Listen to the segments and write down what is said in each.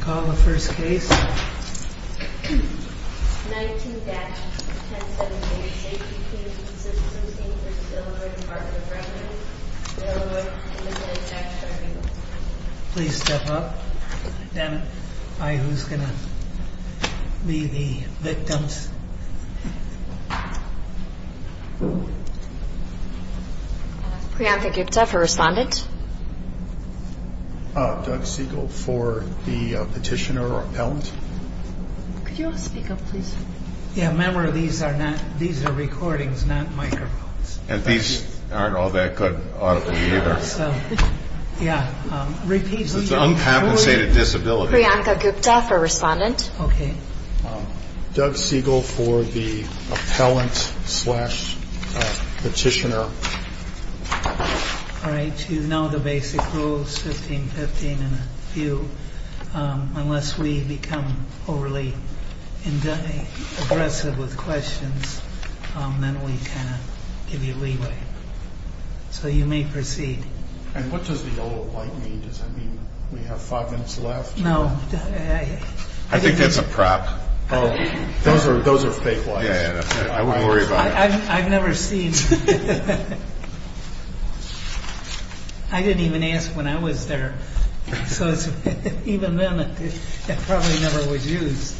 Call the first case. 19-1017, Safety-Kleen Systems, Inc. v. Illinois Department of Revenue, Illinois. Please step up and identify who's going to be the victims. Priyanka Gupta for Respondent. Doug Siegel for the Petitioner or Appellant. Could you all speak up, please? Yeah, remember, these are recordings, not microphones. And these aren't all that good auditors either. So, yeah. It's an uncompensated disability. Priyanka Gupta for Respondent. Okay. Doug Siegel for the Appellant slash Petitioner. All right. You know the basic rules, 15-15 and a few. Unless we become overly aggressive with questions, then we kind of give you leeway. So you may proceed. And what does the yellow light mean? Does that mean we have five minutes left? No. I think that's a prop. Those are fake lights. Yeah, yeah. I wouldn't worry about it. I've never seen. I didn't even ask when I was there. So even then, it probably never was used.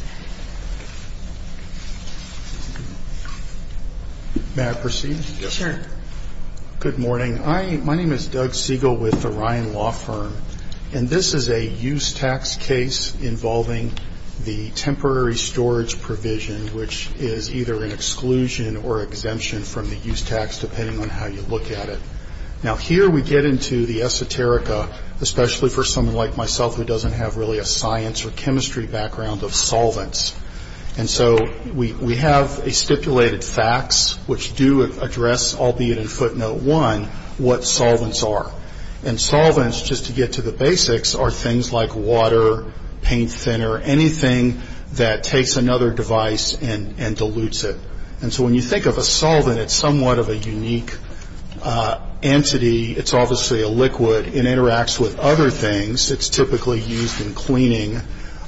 May I proceed? Sure. Good morning. My name is Doug Siegel with the Ryan Law Firm. And this is a use tax case involving the temporary storage provision, which is either an exclusion or exemption from the use tax, depending on how you look at it. Now, here we get into the esoterica, especially for someone like myself who doesn't have really a science or chemistry background of solvents. And so we have a stipulated fax, which do address, albeit in footnote one, what solvents are. And solvents, just to get to the basics, are things like water, paint thinner, anything that takes another device and dilutes it. And so when you think of a solvent, it's somewhat of a unique entity. It's obviously a liquid. It interacts with other things. It's typically used in cleaning.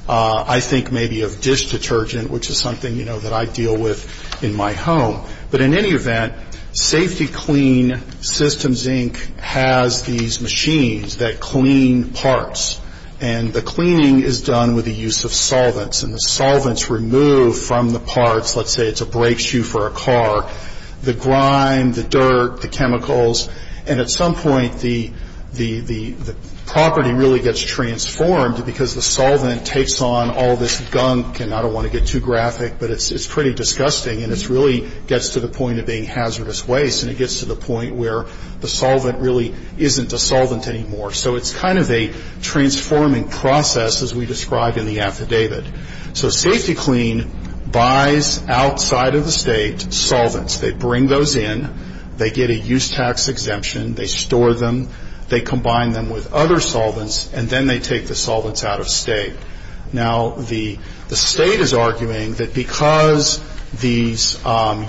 I think maybe of dish detergent, which is something, you know, that I deal with in my home. But in any event, Safety Clean Systems, Inc. has these machines that clean parts. And the cleaning is done with the use of solvents. And the solvents remove from the parts, let's say it's a brake shoe for a car, the grime, the dirt, the chemicals. And at some point, the property really gets transformed because the solvent takes on all this gunk. And I don't want to get too graphic, but it's pretty disgusting. And it really gets to the point of being hazardous waste. And it gets to the point where the solvent really isn't a solvent anymore. So it's kind of a transforming process, as we described in the affidavit. So Safety Clean buys, outside of the state, solvents. They bring those in. They get a use tax exemption. They store them. They combine them with other solvents. And then they take the solvents out of state. Now, the state is arguing that because these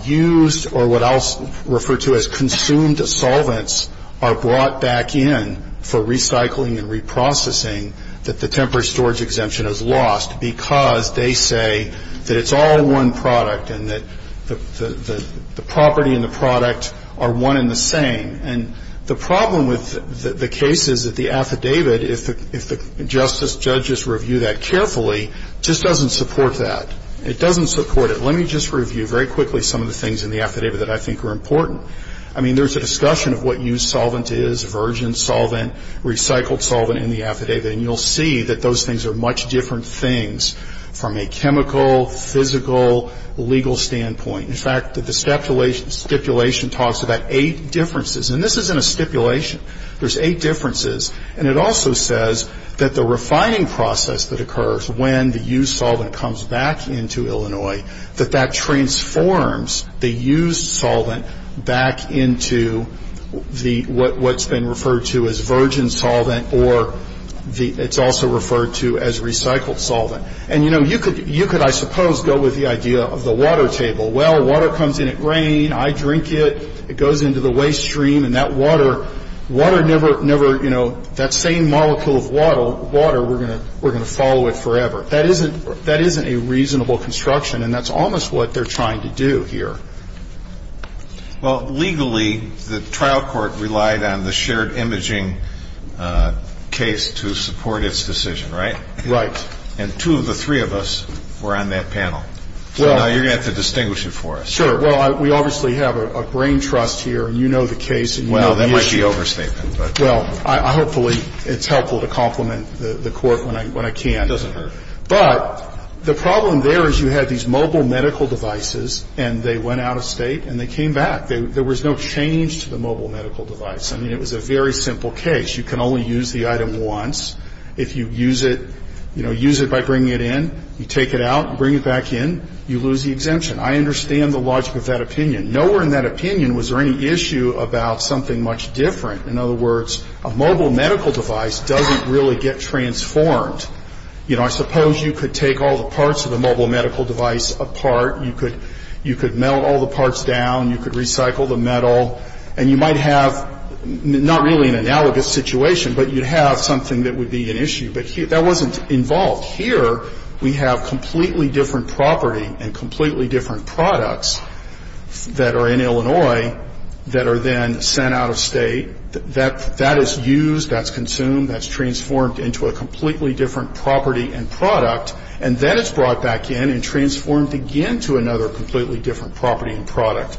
used or what I'll refer to as consumed solvents are brought back in for recycling and reprocessing, that the temporary storage exemption is lost because they say that it's all one product and that the property and the product are one and the same. And the problem with the case is that the affidavit, if the judges review that carefully, just doesn't support that. It doesn't support it. Let me just review very quickly some of the things in the affidavit that I think are important. I mean, there's a discussion of what used solvent is, virgin solvent, recycled solvent in the affidavit. And you'll see that those things are much different things from a chemical, physical, legal standpoint. In fact, the stipulation talks about eight differences. And this isn't a stipulation. There's eight differences. And it also says that the refining process that occurs when the used solvent comes back into Illinois, that that transforms the used solvent back into what's been referred to as virgin solvent, or it's also referred to as recycled solvent. And, you know, you could, I suppose, go with the idea of the water table. Well, water comes in at rain. I drink it. It goes into the waste stream. And that water, water never, you know, that same molecule of water, we're going to follow it forever. That isn't a reasonable construction. And that's almost what they're trying to do here. Well, legally, the trial court relied on the shared imaging case to support its decision, right? Right. And two of the three of us were on that panel. So now you're going to have to distinguish it for us. Sure. Well, we obviously have a brain trust here, and you know the case, and you know the issue. Well, that might be overstatement. Well, hopefully it's helpful to compliment the court when I can. It doesn't hurt. But the problem there is you had these mobile medical devices, and they went out of state, and they came back. There was no change to the mobile medical device. I mean, it was a very simple case. You can only use the item once. If you use it, you know, use it by bringing it in, you take it out and bring it back in, you lose the exemption. I understand the logic of that opinion. Nowhere in that opinion was there any issue about something much different. In other words, a mobile medical device doesn't really get transformed. You know, I suppose you could take all the parts of the mobile medical device apart. You could melt all the parts down. You could recycle the metal. And you might have not really an analogous situation, but you'd have something that would be an issue. But that wasn't involved. Here we have completely different property and completely different products that are in Illinois that are then sent out of state. That is used. That's consumed. That's transformed into a completely different property and product. And then it's brought back in and transformed again to another completely different property and product.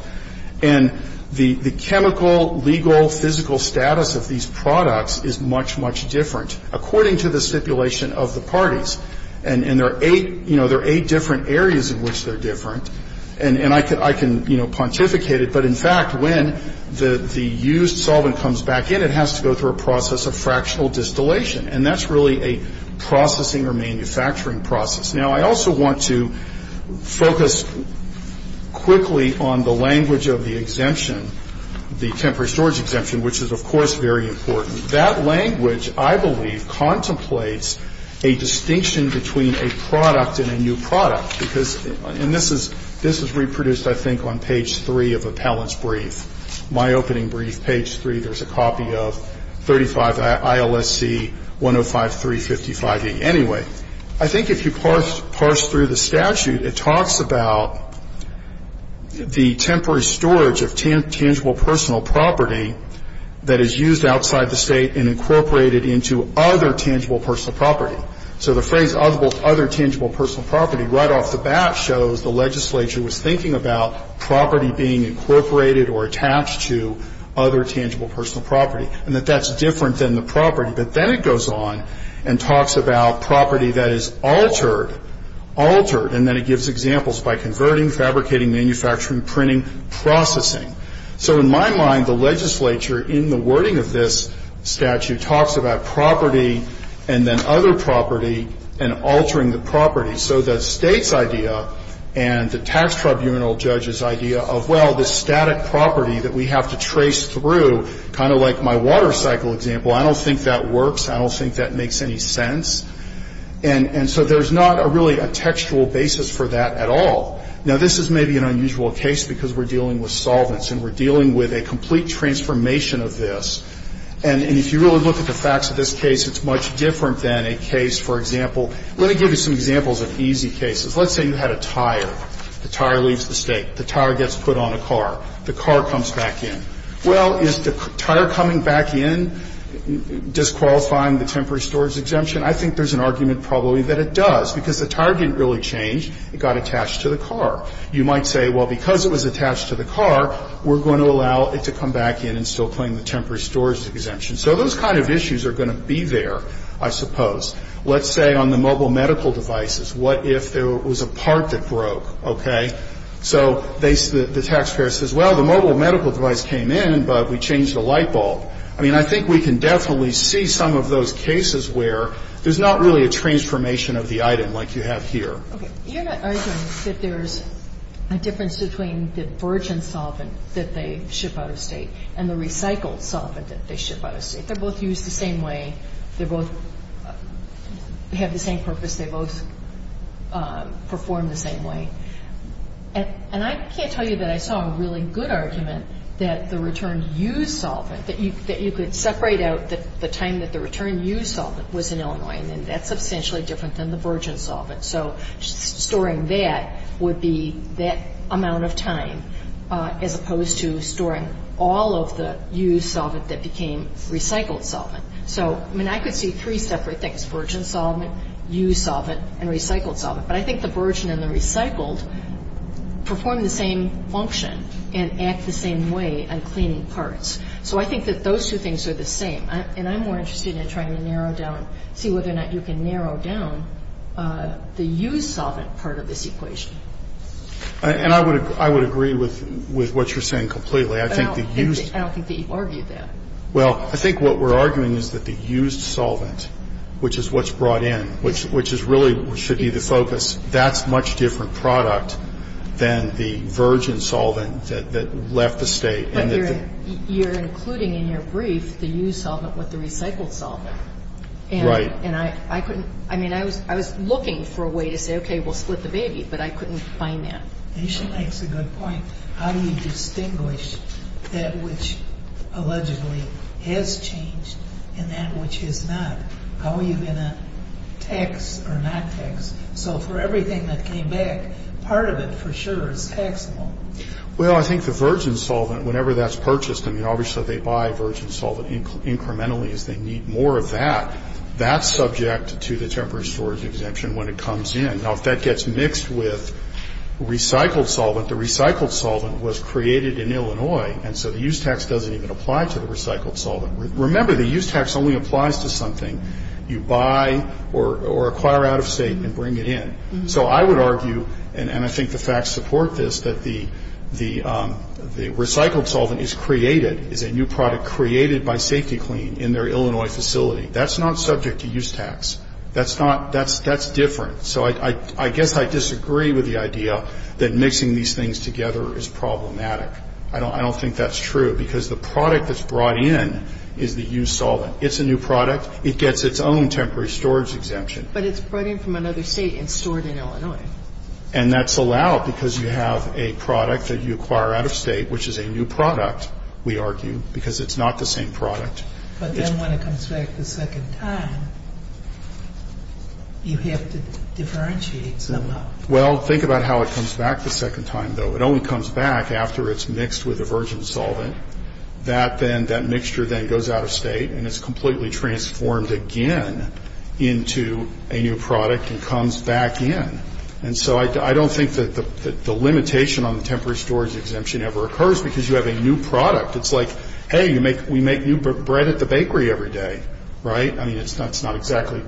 And the chemical, legal, physical status of these products is much, much different, according to the stipulation of the parties. And there are eight, you know, there are eight different areas in which they're different. And I can, you know, pontificate it. But, in fact, when the used solvent comes back in, it has to go through a process of fractional distillation. And that's really a processing or manufacturing process. Now, I also want to focus quickly on the language of the exemption, the temporary storage exemption, which is, of course, very important. That language, I believe, contemplates a distinction between a product and a new product. Because, and this is reproduced, I think, on page three of Appellant's brief, my opening brief, page three. There's a copy of 35 ILSC 105355E. Anyway, I think if you parse through the statute, it talks about the temporary storage of tangible personal property that is used outside the State and incorporated into other tangible personal property. So the phrase other tangible personal property right off the bat shows the legislature was thinking about property being incorporated or attached to other tangible personal property, and that that's different than the property. But then it goes on and talks about property that is altered, altered. And then it gives examples by converting, fabricating, manufacturing, printing, processing. So in my mind, the legislature, in the wording of this statute, talks about property and then other property and altering the property. So the State's idea and the tax tribunal judge's idea of, well, this static property that we have to trace through, kind of like my water cycle example, I don't think that works. I don't think that makes any sense. And so there's not really a textual basis for that at all. Now, this is maybe an unusual case because we're dealing with solvents and we're dealing with a complete transformation of this. And if you really look at the facts of this case, it's much different than a case, for example, let me give you some examples of easy cases. Let's say you had a tire. The tire leaves the State. The tire gets put on a car. The car comes back in. Well, is the tire coming back in disqualifying the temporary storage exemption? I think there's an argument probably that it does, because the tire didn't really change. It got attached to the car. You might say, well, because it was attached to the car, we're going to allow it to come back in and still claim the temporary storage exemption. So those kind of issues are going to be there, I suppose. Let's say on the mobile medical devices, what if there was a part that broke, okay? So the taxpayer says, well, the mobile medical device came in, but we changed the light bulb. I mean, I think we can definitely see some of those cases where there's not really a transformation of the item like you have here. Okay. You're not arguing that there's a difference between the virgin solvent that they ship out of State and the recycled solvent that they ship out of State. They're both used the same way. They both have the same purpose. They both perform the same way. And I can't tell you that I saw a really good argument that the returned used solvent, that you could separate out the time that the returned used solvent was in Illinois, and then that's substantially different than the virgin solvent. So storing that would be that amount of time as opposed to storing all of the used solvent that became recycled solvent. So, I mean, I could see three separate things, virgin solvent, used solvent, and recycled solvent. But I think the virgin and the recycled perform the same function and act the same way on cleaning parts. So I think that those two things are the same. And I'm more interested in trying to narrow down, see whether or not you can narrow down the used solvent part of this equation. And I would agree with what you're saying completely. I don't think that you've argued that. Well, I think what we're arguing is that the used solvent, which is what's brought in, which is really should be the focus, that's a much different product than the virgin solvent that left the state. But you're including in your brief the used solvent with the recycled solvent. Right. And I couldn't, I mean, I was looking for a way to say, okay, we'll split the baby. But I couldn't find that. And she makes a good point. How do you distinguish that which allegedly has changed and that which has not? How are you going to tax or not tax? So for everything that came back, part of it for sure is taxable. Well, I think the virgin solvent, whenever that's purchased, I mean, obviously they buy virgin solvent incrementally as they need more of that. That's subject to the temporary storage exemption when it comes in. Now, if that gets mixed with recycled solvent, the recycled solvent was created in Illinois, and so the use tax doesn't even apply to the recycled solvent. Remember, the use tax only applies to something you buy or acquire out of state and bring it in. So I would argue, and I think the facts support this, that the recycled solvent is created, is a new product created by SafetyClean in their Illinois facility. That's not subject to use tax. That's different. So I guess I disagree with the idea that mixing these things together is problematic. I don't think that's true, because the product that's brought in is the used solvent. It's a new product. It gets its own temporary storage exemption. But it's brought in from another state and stored in Illinois. And that's allowed because you have a product that you acquire out of state, which is a new product, we argue, because it's not the same product. But then when it comes back the second time, you have to differentiate somehow. Well, think about how it comes back the second time, though. It only comes back after it's mixed with a virgin solvent. That mixture then goes out of state, and it's completely transformed again into a new product and comes back in. And so I don't think that the limitation on the temporary storage exemption ever occurs, because you have a new product. It's like, hey, we make new bread at the bakery every day, right? I mean, it's not exactly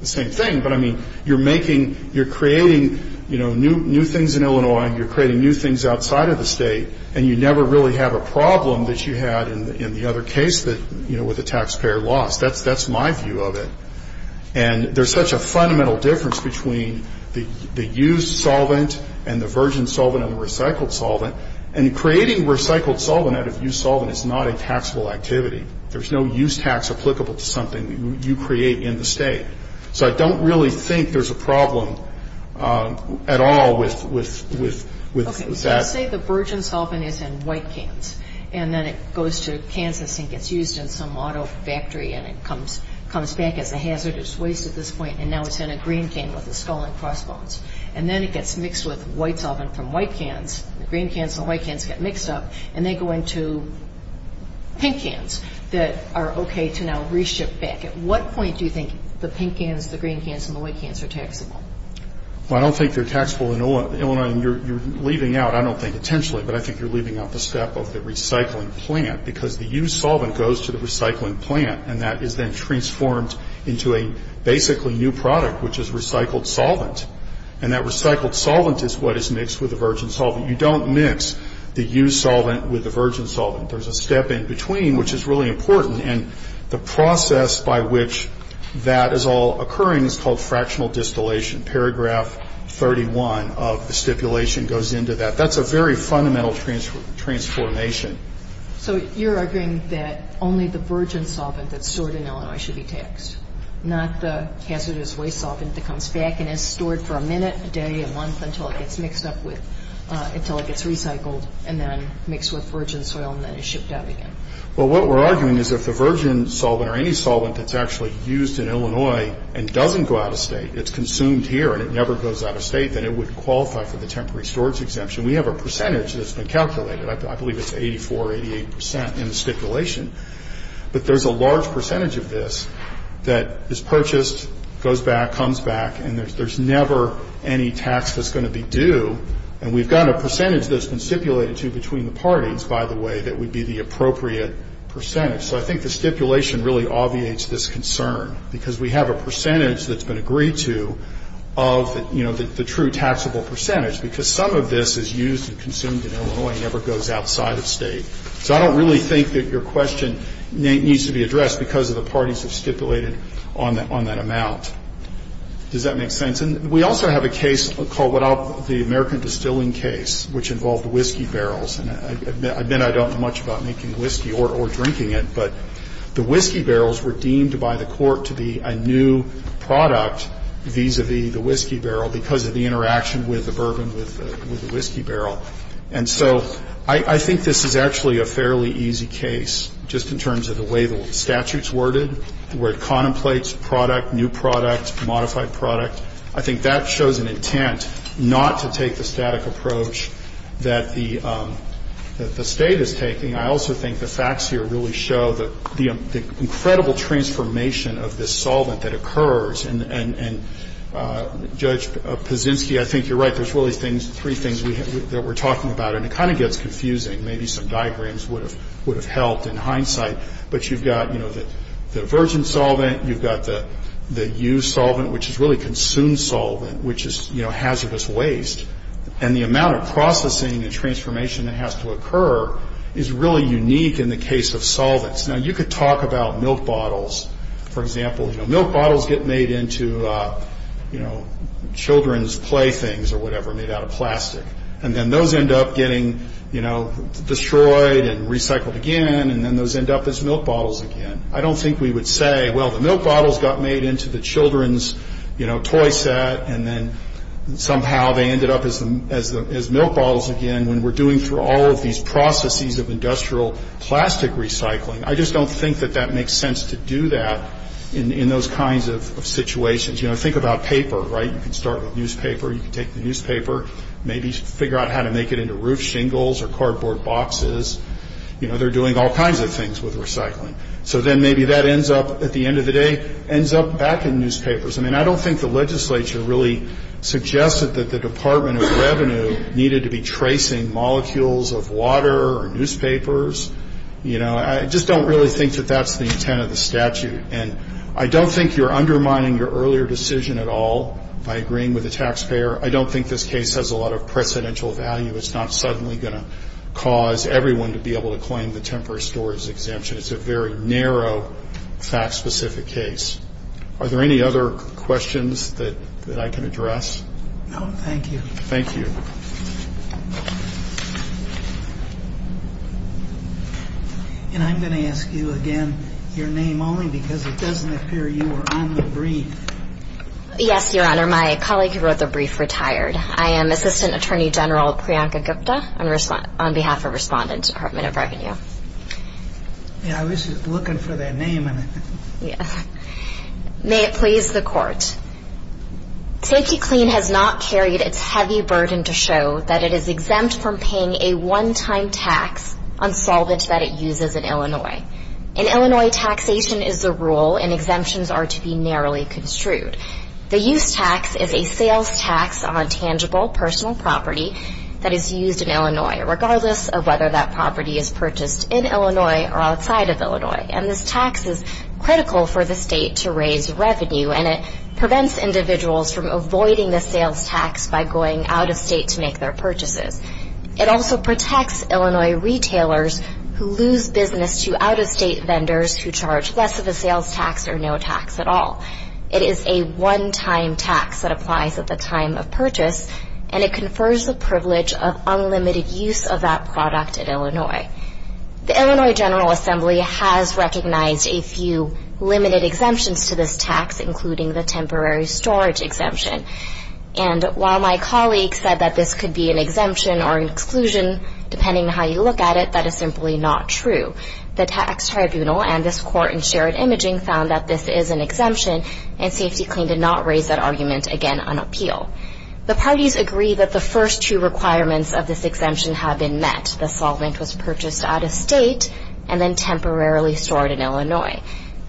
the same thing. But, I mean, you're creating new things in Illinois, and you're creating new things outside of the state, and you never really have a problem that you had in the other case with the taxpayer loss. That's my view of it. And there's such a fundamental difference between the used solvent and the virgin solvent and the recycled solvent. And creating recycled solvent out of used solvent is not a taxable activity. There's no use tax applicable to something you create in the state. So I don't really think there's a problem at all with that. Okay, so say the virgin solvent is in white cans, and then it goes to Kansas and gets used in some auto factory, and it comes back as a hazardous waste at this point, and now it's in a green can with a skull and crossbones. And then it gets mixed with white solvent from white cans. The green cans and the white cans get mixed up, and they go into pink cans that are okay to now reship back. At what point do you think the pink cans, the green cans, and the white cans are taxable? Well, I don't think they're taxable in Illinois. And you're leaving out, I don't think intentionally, but I think you're leaving out the step of the recycling plant because the used solvent goes to the recycling plant, and that is then transformed into a basically new product, which is recycled solvent. And that recycled solvent is what is mixed with the virgin solvent. You don't mix the used solvent with the virgin solvent. There's a step in between, which is really important. And the process by which that is all occurring is called fractional distillation. Paragraph 31 of the stipulation goes into that. That's a very fundamental transformation. So you're arguing that only the virgin solvent that's stored in Illinois should be taxed, not the hazardous waste solvent that comes back and is stored for a minute, a day, a month, until it gets mixed up with, until it gets recycled and then mixed with virgin soil and then is shipped out again. Well, what we're arguing is if the virgin solvent or any solvent that's actually used in Illinois and doesn't go out of state, it's consumed here and it never goes out of state, then it would qualify for the temporary storage exemption. We have a percentage that's been calculated. I believe it's 84 or 88 percent in the stipulation. But there's a large percentage of this that is purchased, goes back, comes back, and there's never any tax that's going to be due. And we've got a percentage that's been stipulated to between the parties, by the way, that would be the appropriate percentage. So I think the stipulation really obviates this concern because we have a percentage that's been agreed to of, you know, the true taxable percentage because some of this is used and consumed in Illinois and never goes outside of state. So I don't really think that your question needs to be addressed because of the parties have stipulated on that amount. Does that make sense? And we also have a case called the American Distilling Case, which involved whiskey barrels. And I admit I don't know much about making whiskey or drinking it, but the whiskey barrels were deemed by the court to be a new product vis-a-vis the whiskey barrel because of the interaction with the bourbon with the whiskey barrel. And so I think this is actually a fairly easy case just in terms of the way the statute's worded, the way it contemplates product, new product, modified product. I think that shows an intent not to take the static approach that the State is taking. I also think the facts here really show the incredible transformation of this solvent that occurs. And, Judge Paszynski, I think you're right. There's really three things that we're talking about. And it kind of gets confusing. Maybe some diagrams would have helped in hindsight. But you've got, you know, the virgin solvent. You've got the used solvent, which is really consumed solvent, which is, you know, hazardous waste. And the amount of processing and transformation that has to occur is really unique in the case of solvents. Now, you could talk about milk bottles, for example. You know, milk bottles get made into, you know, children's play things or whatever made out of plastic. And then those end up getting, you know, destroyed and recycled again. And then those end up as milk bottles again. I don't think we would say, well, the milk bottles got made into the children's, you know, toy set. And then somehow they ended up as milk bottles again. When we're doing through all of these processes of industrial plastic recycling, I just don't think that that makes sense to do that in those kinds of situations. You know, think about paper, right? You can start with newspaper. You can take the newspaper, maybe figure out how to make it into roof shingles or cardboard boxes. You know, they're doing all kinds of things with recycling. So then maybe that ends up, at the end of the day, ends up back in newspapers. I mean, I don't think the legislature really suggested that the Department of Revenue needed to be tracing molecules of water or newspapers. You know, I just don't really think that that's the intent of the statute. And I don't think you're undermining your earlier decision at all by agreeing with the taxpayer. I don't think this case has a lot of precedential value. It's not suddenly going to cause everyone to be able to claim the temporary storage exemption. It's a very narrow, fact-specific case. Are there any other questions that I can address? No, thank you. Thank you. And I'm going to ask you again your name only because it doesn't appear you were on the brief. Yes, Your Honor. My colleague who wrote the brief retired. I am Assistant Attorney General Priyanka Gupta on behalf of Respondent Department of Revenue. Yeah, I was just looking for that name. Yes. May it please the Court. SafetyClean has not carried its heavy burden to show that it is exempt from paying a one-time tax on solvent that it uses in Illinois. In Illinois, taxation is the rule and exemptions are to be narrowly construed. The use tax is a sales tax on tangible personal property that is used in Illinois, regardless of whether that property is purchased in Illinois or outside of Illinois. And this tax is critical for the state to raise revenue, and it prevents individuals from avoiding the sales tax by going out of state to make their purchases. It also protects Illinois retailers who lose business to out-of-state vendors who charge less of the sales tax or no tax at all. It is a one-time tax that applies at the time of purchase, and it confers the privilege of unlimited use of that product in Illinois. The Illinois General Assembly has recognized a few limited exemptions to this tax, including the temporary storage exemption. And while my colleagues said that this could be an exemption or an exclusion, depending on how you look at it, that is simply not true. The tax tribunal and this Court in shared imaging found that this is an exemption, and SafetyClean did not raise that argument again on appeal. The parties agree that the first two requirements of this exemption have been met. The solvent was purchased out-of-state and then temporarily stored in Illinois.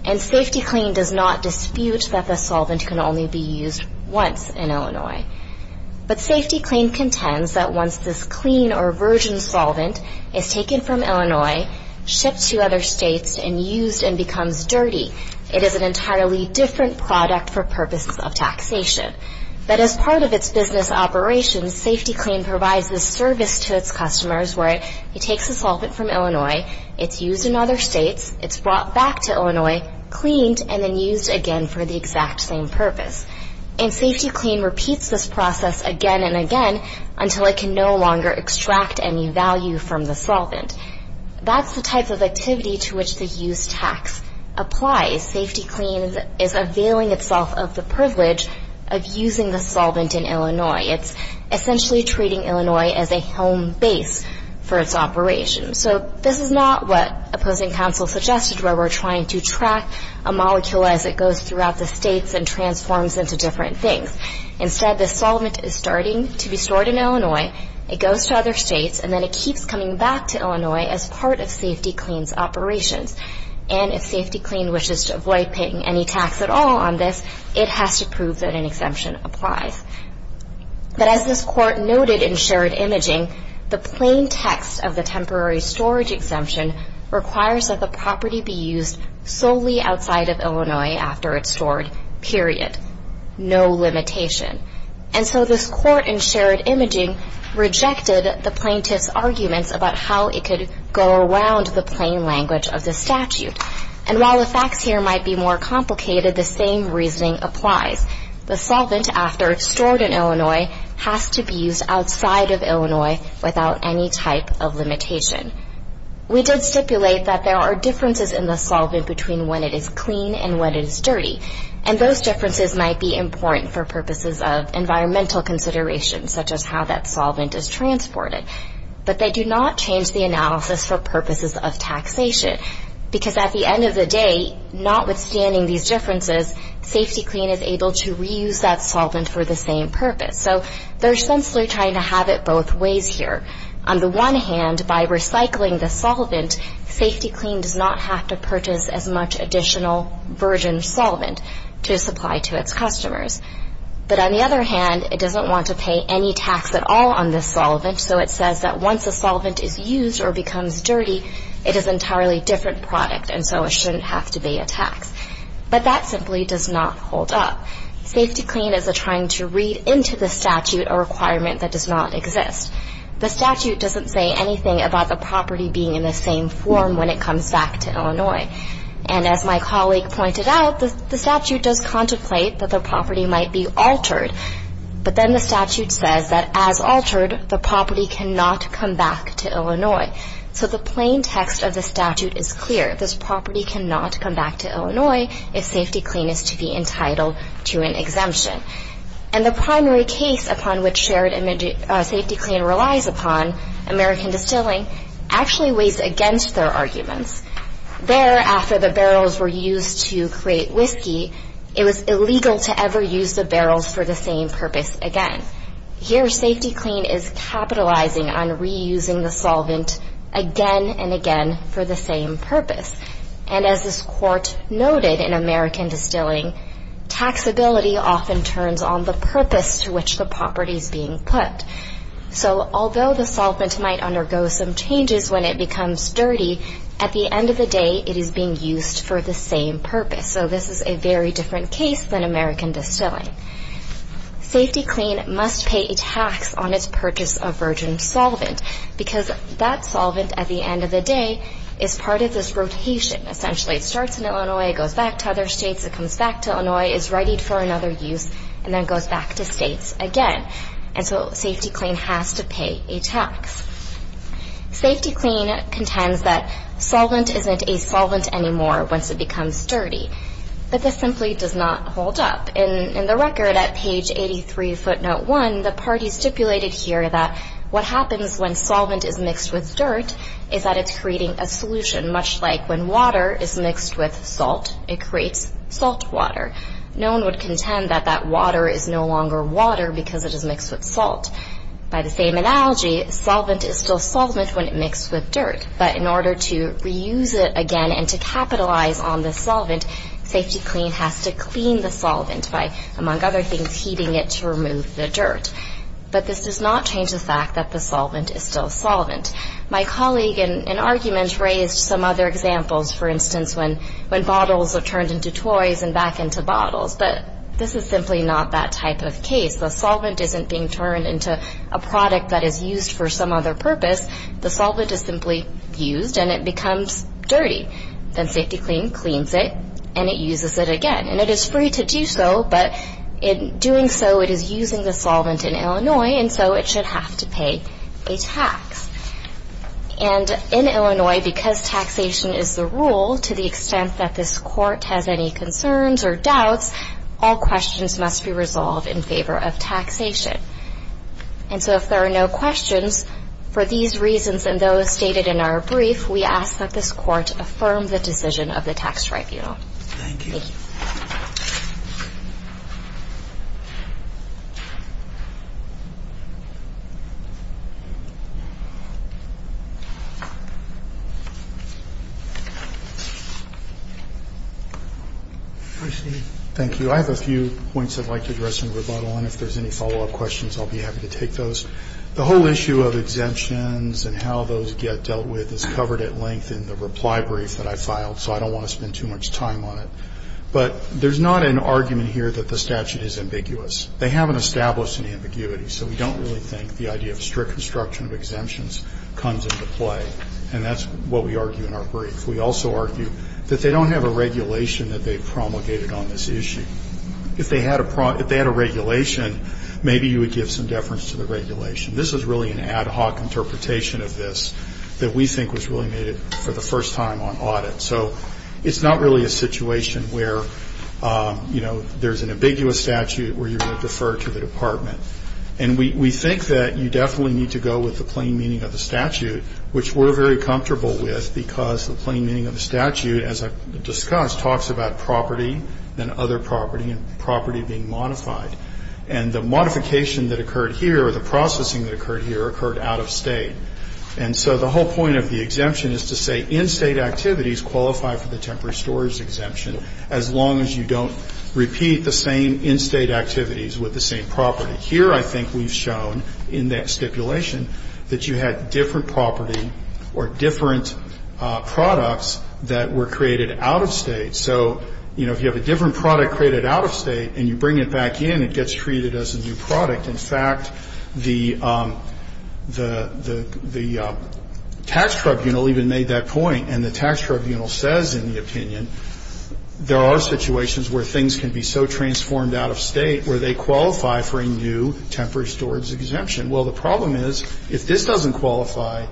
And SafetyClean does not dispute that the solvent can only be used once in Illinois. But SafetyClean contends that once this clean or virgin solvent is taken from Illinois, shipped to other states, and used and becomes dirty, it is an entirely different product for purposes of taxation. But as part of its business operations, SafetyClean provides this service to its customers where it takes the solvent from Illinois, it's used in other states, it's brought back to Illinois, cleaned, and then used again for the exact same purpose. And SafetyClean repeats this process again and again until it can no longer extract any value from the solvent. That's the type of activity to which the use tax applies. SafetyClean is availing itself of the privilege of using the solvent in Illinois. It's essentially treating Illinois as a home base for its operations. So this is not what opposing counsel suggested, where we're trying to track a molecule as it goes throughout the states and transforms into different things. Instead, the solvent is starting to be stored in Illinois, it goes to other states, and then it keeps coming back to Illinois as part of SafetyClean's operations. And if SafetyClean wishes to avoid paying any tax at all on this, it has to prove that an exemption applies. But as this court noted in shared imaging, the plain text of the temporary storage exemption requires that the property be used solely outside of Illinois after it's stored, period. No limitation. And so this court in shared imaging rejected the plaintiff's arguments about how it could go around the plain language of the statute. And while the facts here might be more complicated, the same reasoning applies. The solvent, after it's stored in Illinois, has to be used outside of Illinois without any type of limitation. We did stipulate that there are differences in the solvent between when it is clean and when it is dirty. And those differences might be important for purposes of environmental considerations, such as how that solvent is transported. But they do not change the analysis for purposes of taxation. Because at the end of the day, notwithstanding these differences, SafetyClean is able to reuse that solvent for the same purpose. So they're essentially trying to have it both ways here. On the one hand, by recycling the solvent, SafetyClean does not have to purchase as much additional virgin solvent to supply to its customers. But on the other hand, it doesn't want to pay any tax at all on this solvent. So it says that once the solvent is used or becomes dirty, it is an entirely different product, and so it shouldn't have to pay a tax. But that simply does not hold up. SafetyClean is trying to read into the statute a requirement that does not exist. The statute doesn't say anything about the property being in the same form when it comes back to Illinois. And as my colleague pointed out, the statute does contemplate that the property might be altered. But then the statute says that as altered, the property cannot come back to Illinois. So the plain text of the statute is clear. This property cannot come back to Illinois if SafetyClean is to be entitled to an exemption. And the primary case upon which Shared SafetyClean relies upon, American Distilling, actually weighs against their arguments. There, after the barrels were used to create whiskey, it was illegal to ever use the barrels for the same purpose again. Here, SafetyClean is capitalizing on reusing the solvent again and again for the same purpose. And as this court noted in American Distilling, taxability often turns on the purpose to which the property is being put. So although the solvent might undergo some changes when it becomes dirty, at the end of the day, it is being used for the same purpose. So this is a very different case than American Distilling. SafetyClean must pay a tax on its purchase of virgin solvent because that solvent, at the end of the day, is part of this rotation. Essentially, it starts in Illinois, it goes back to other states, it comes back to Illinois, is readied for another use, and then goes back to states again. And so SafetyClean has to pay a tax. SafetyClean contends that solvent isn't a solvent anymore once it becomes dirty. But this simply does not hold up. In the record at page 83, footnote 1, the party stipulated here that what happens when solvent is mixed with dirt is that it's creating a solution. Much like when water is mixed with salt, it creates salt water. No one would contend that that water is no longer water because it is mixed with salt. By the same analogy, solvent is still solvent when it's mixed with dirt. But in order to reuse it again and to capitalize on the solvent, SafetyClean has to clean the solvent by, among other things, heating it to remove the dirt. But this does not change the fact that the solvent is still solvent. My colleague in an argument raised some other examples. For instance, when bottles are turned into toys and back into bottles. But this is simply not that type of case. The solvent isn't being turned into a product that is used for some other purpose. The solvent is simply used and it becomes dirty. Then SafetyClean cleans it and it uses it again. And it is free to do so, but in doing so, it is using the solvent in Illinois, and so it should have to pay a tax. And in Illinois, because taxation is the rule, to the extent that this court has any concerns or doubts, all questions must be resolved in favor of taxation. And so if there are no questions, for these reasons and those stated in our brief, we ask that this court affirm the decision of the tax tribunal. Thank you. Thank you. Thank you. I have a few points I'd like to address in rebuttal, and if there's any follow-up questions, I'll be happy to take those. The whole issue of exemptions and how those get dealt with is covered at length in the reply brief that I filed, so I don't want to spend too much time on it. But there's not an argument here that the statute is ambiguous. They haven't established an ambiguity, so we don't really think the idea of strict construction of exemptions comes into play. And that's what we argue in our brief. We also argue that they don't have a regulation that they promulgated on this issue. If they had a regulation, maybe you would give some deference to the regulation. This is really an ad hoc interpretation of this that we think was really made for the first time on audit. So it's not really a situation where, you know, there's an ambiguous statute where you're going to defer to the department. And we think that you definitely need to go with the plain meaning of the statute, which we're very comfortable with because the plain meaning of the statute, as I've discussed, talks about property and other property and property being modified. And the modification that occurred here or the processing that occurred here occurred out of state. And so the whole point of the exemption is to say in-state activities qualify for the temporary storage exemption as long as you don't repeat the same in-state activities with the same property. Here, I think we've shown in that stipulation that you had different property or different products that were created out of state. So, you know, if you have a different product created out of state and you bring it back in, it gets treated as a new product. In fact, the tax tribunal even made that point, and the tax tribunal says in the opinion there are situations where things can be so transformed out of state where they qualify for a new temporary storage exemption. Well, the problem is if this doesn't qualify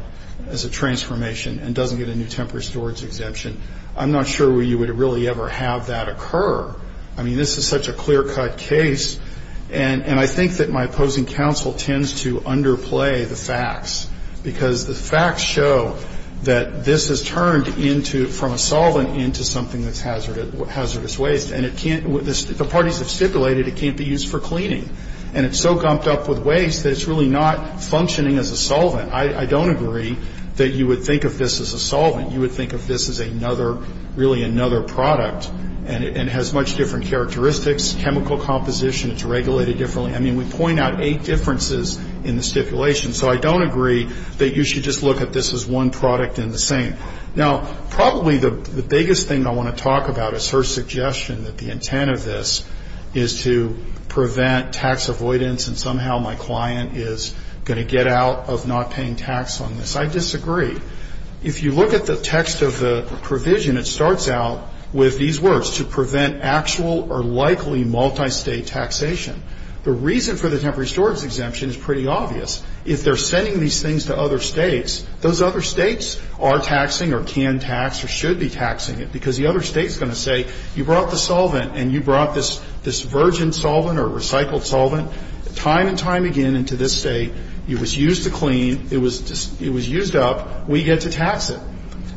as a transformation and doesn't get a new temporary storage exemption, I'm not sure you would really ever have that occur. I mean, this is such a clear-cut case. And I think that my opposing counsel tends to underplay the facts because the facts show that this has turned from a solvent into something that's hazardous waste. And the parties have stipulated it can't be used for cleaning. And it's so gumped up with waste that it's really not functioning as a solvent. I don't agree that you would think of this as a solvent. You would think of this as another, really another product. And it has much different characteristics, chemical composition. It's regulated differently. I mean, we point out eight differences in the stipulation. So I don't agree that you should just look at this as one product and the same. Now, probably the biggest thing I want to talk about is her suggestion that the intent of this is to prevent tax avoidance and somehow my client is going to get out of not paying tax on this. I disagree. If you look at the text of the provision, it starts out with these words, to prevent actual or likely multistate taxation. The reason for the temporary storage exemption is pretty obvious. If they're sending these things to other states, those other states are taxing or can tax or should be taxing it because the other state is going to say you brought the solvent and you brought this virgin solvent or recycled solvent time and time again into this state. It was used to clean. It was used up. We get to tax it.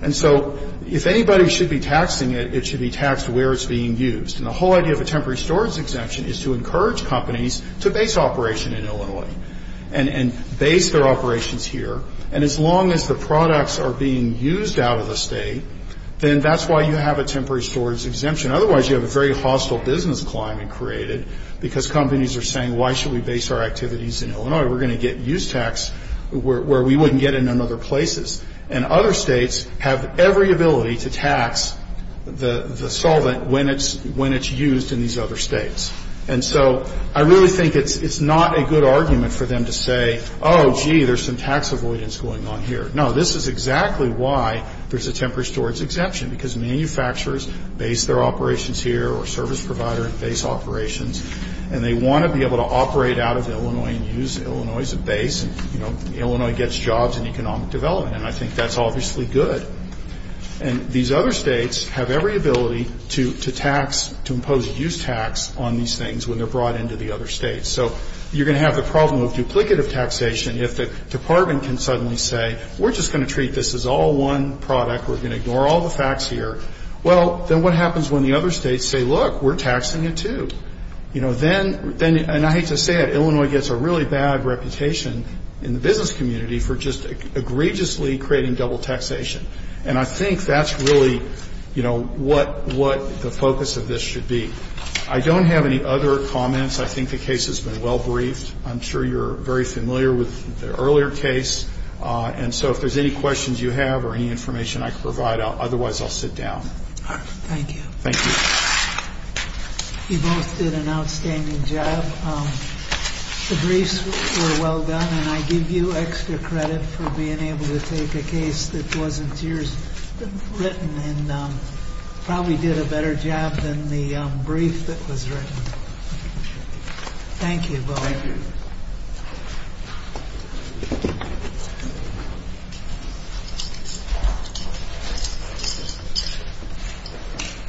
And so if anybody should be taxing it, it should be taxed where it's being used. And the whole idea of a temporary storage exemption is to encourage companies to base operation in Illinois and base their operations here. And as long as the products are being used out of the state, then that's why you have a temporary storage exemption. Otherwise, you have a very hostile business climate created because companies are saying, why should we base our activities in Illinois? We're going to get use tax where we wouldn't get in other places. And other states have every ability to tax the solvent when it's used in these other states. And so I really think it's not a good argument for them to say, oh, gee, there's some tax avoidance going on here. No, this is exactly why there's a temporary storage exemption, because manufacturers base their operations here or service provider base operations, and they want to be able to operate out of Illinois and use Illinois as a base. You know, Illinois gets jobs in economic development, and I think that's obviously good. And these other states have every ability to tax, to impose use tax on these things when they're brought into the other states. So you're going to have the problem of duplicative taxation if the department can suddenly say, we're just going to treat this as all one product, we're going to ignore all the facts here. Well, then what happens when the other states say, look, we're taxing it too? You know, then, and I hate to say it, Illinois gets a really bad reputation in the business community for just egregiously creating double taxation. And I think that's really, you know, what the focus of this should be. I don't have any other comments. I think the case has been well briefed. I'm sure you're very familiar with the earlier case. And so if there's any questions you have or any information I can provide, otherwise I'll sit down. All right. Thank you. Thank you. You both did an outstanding job. The briefs were well done. And I give you extra credit for being able to take a case that wasn't yours written and probably did a better job than the brief that was written. Thank you both. Thank you.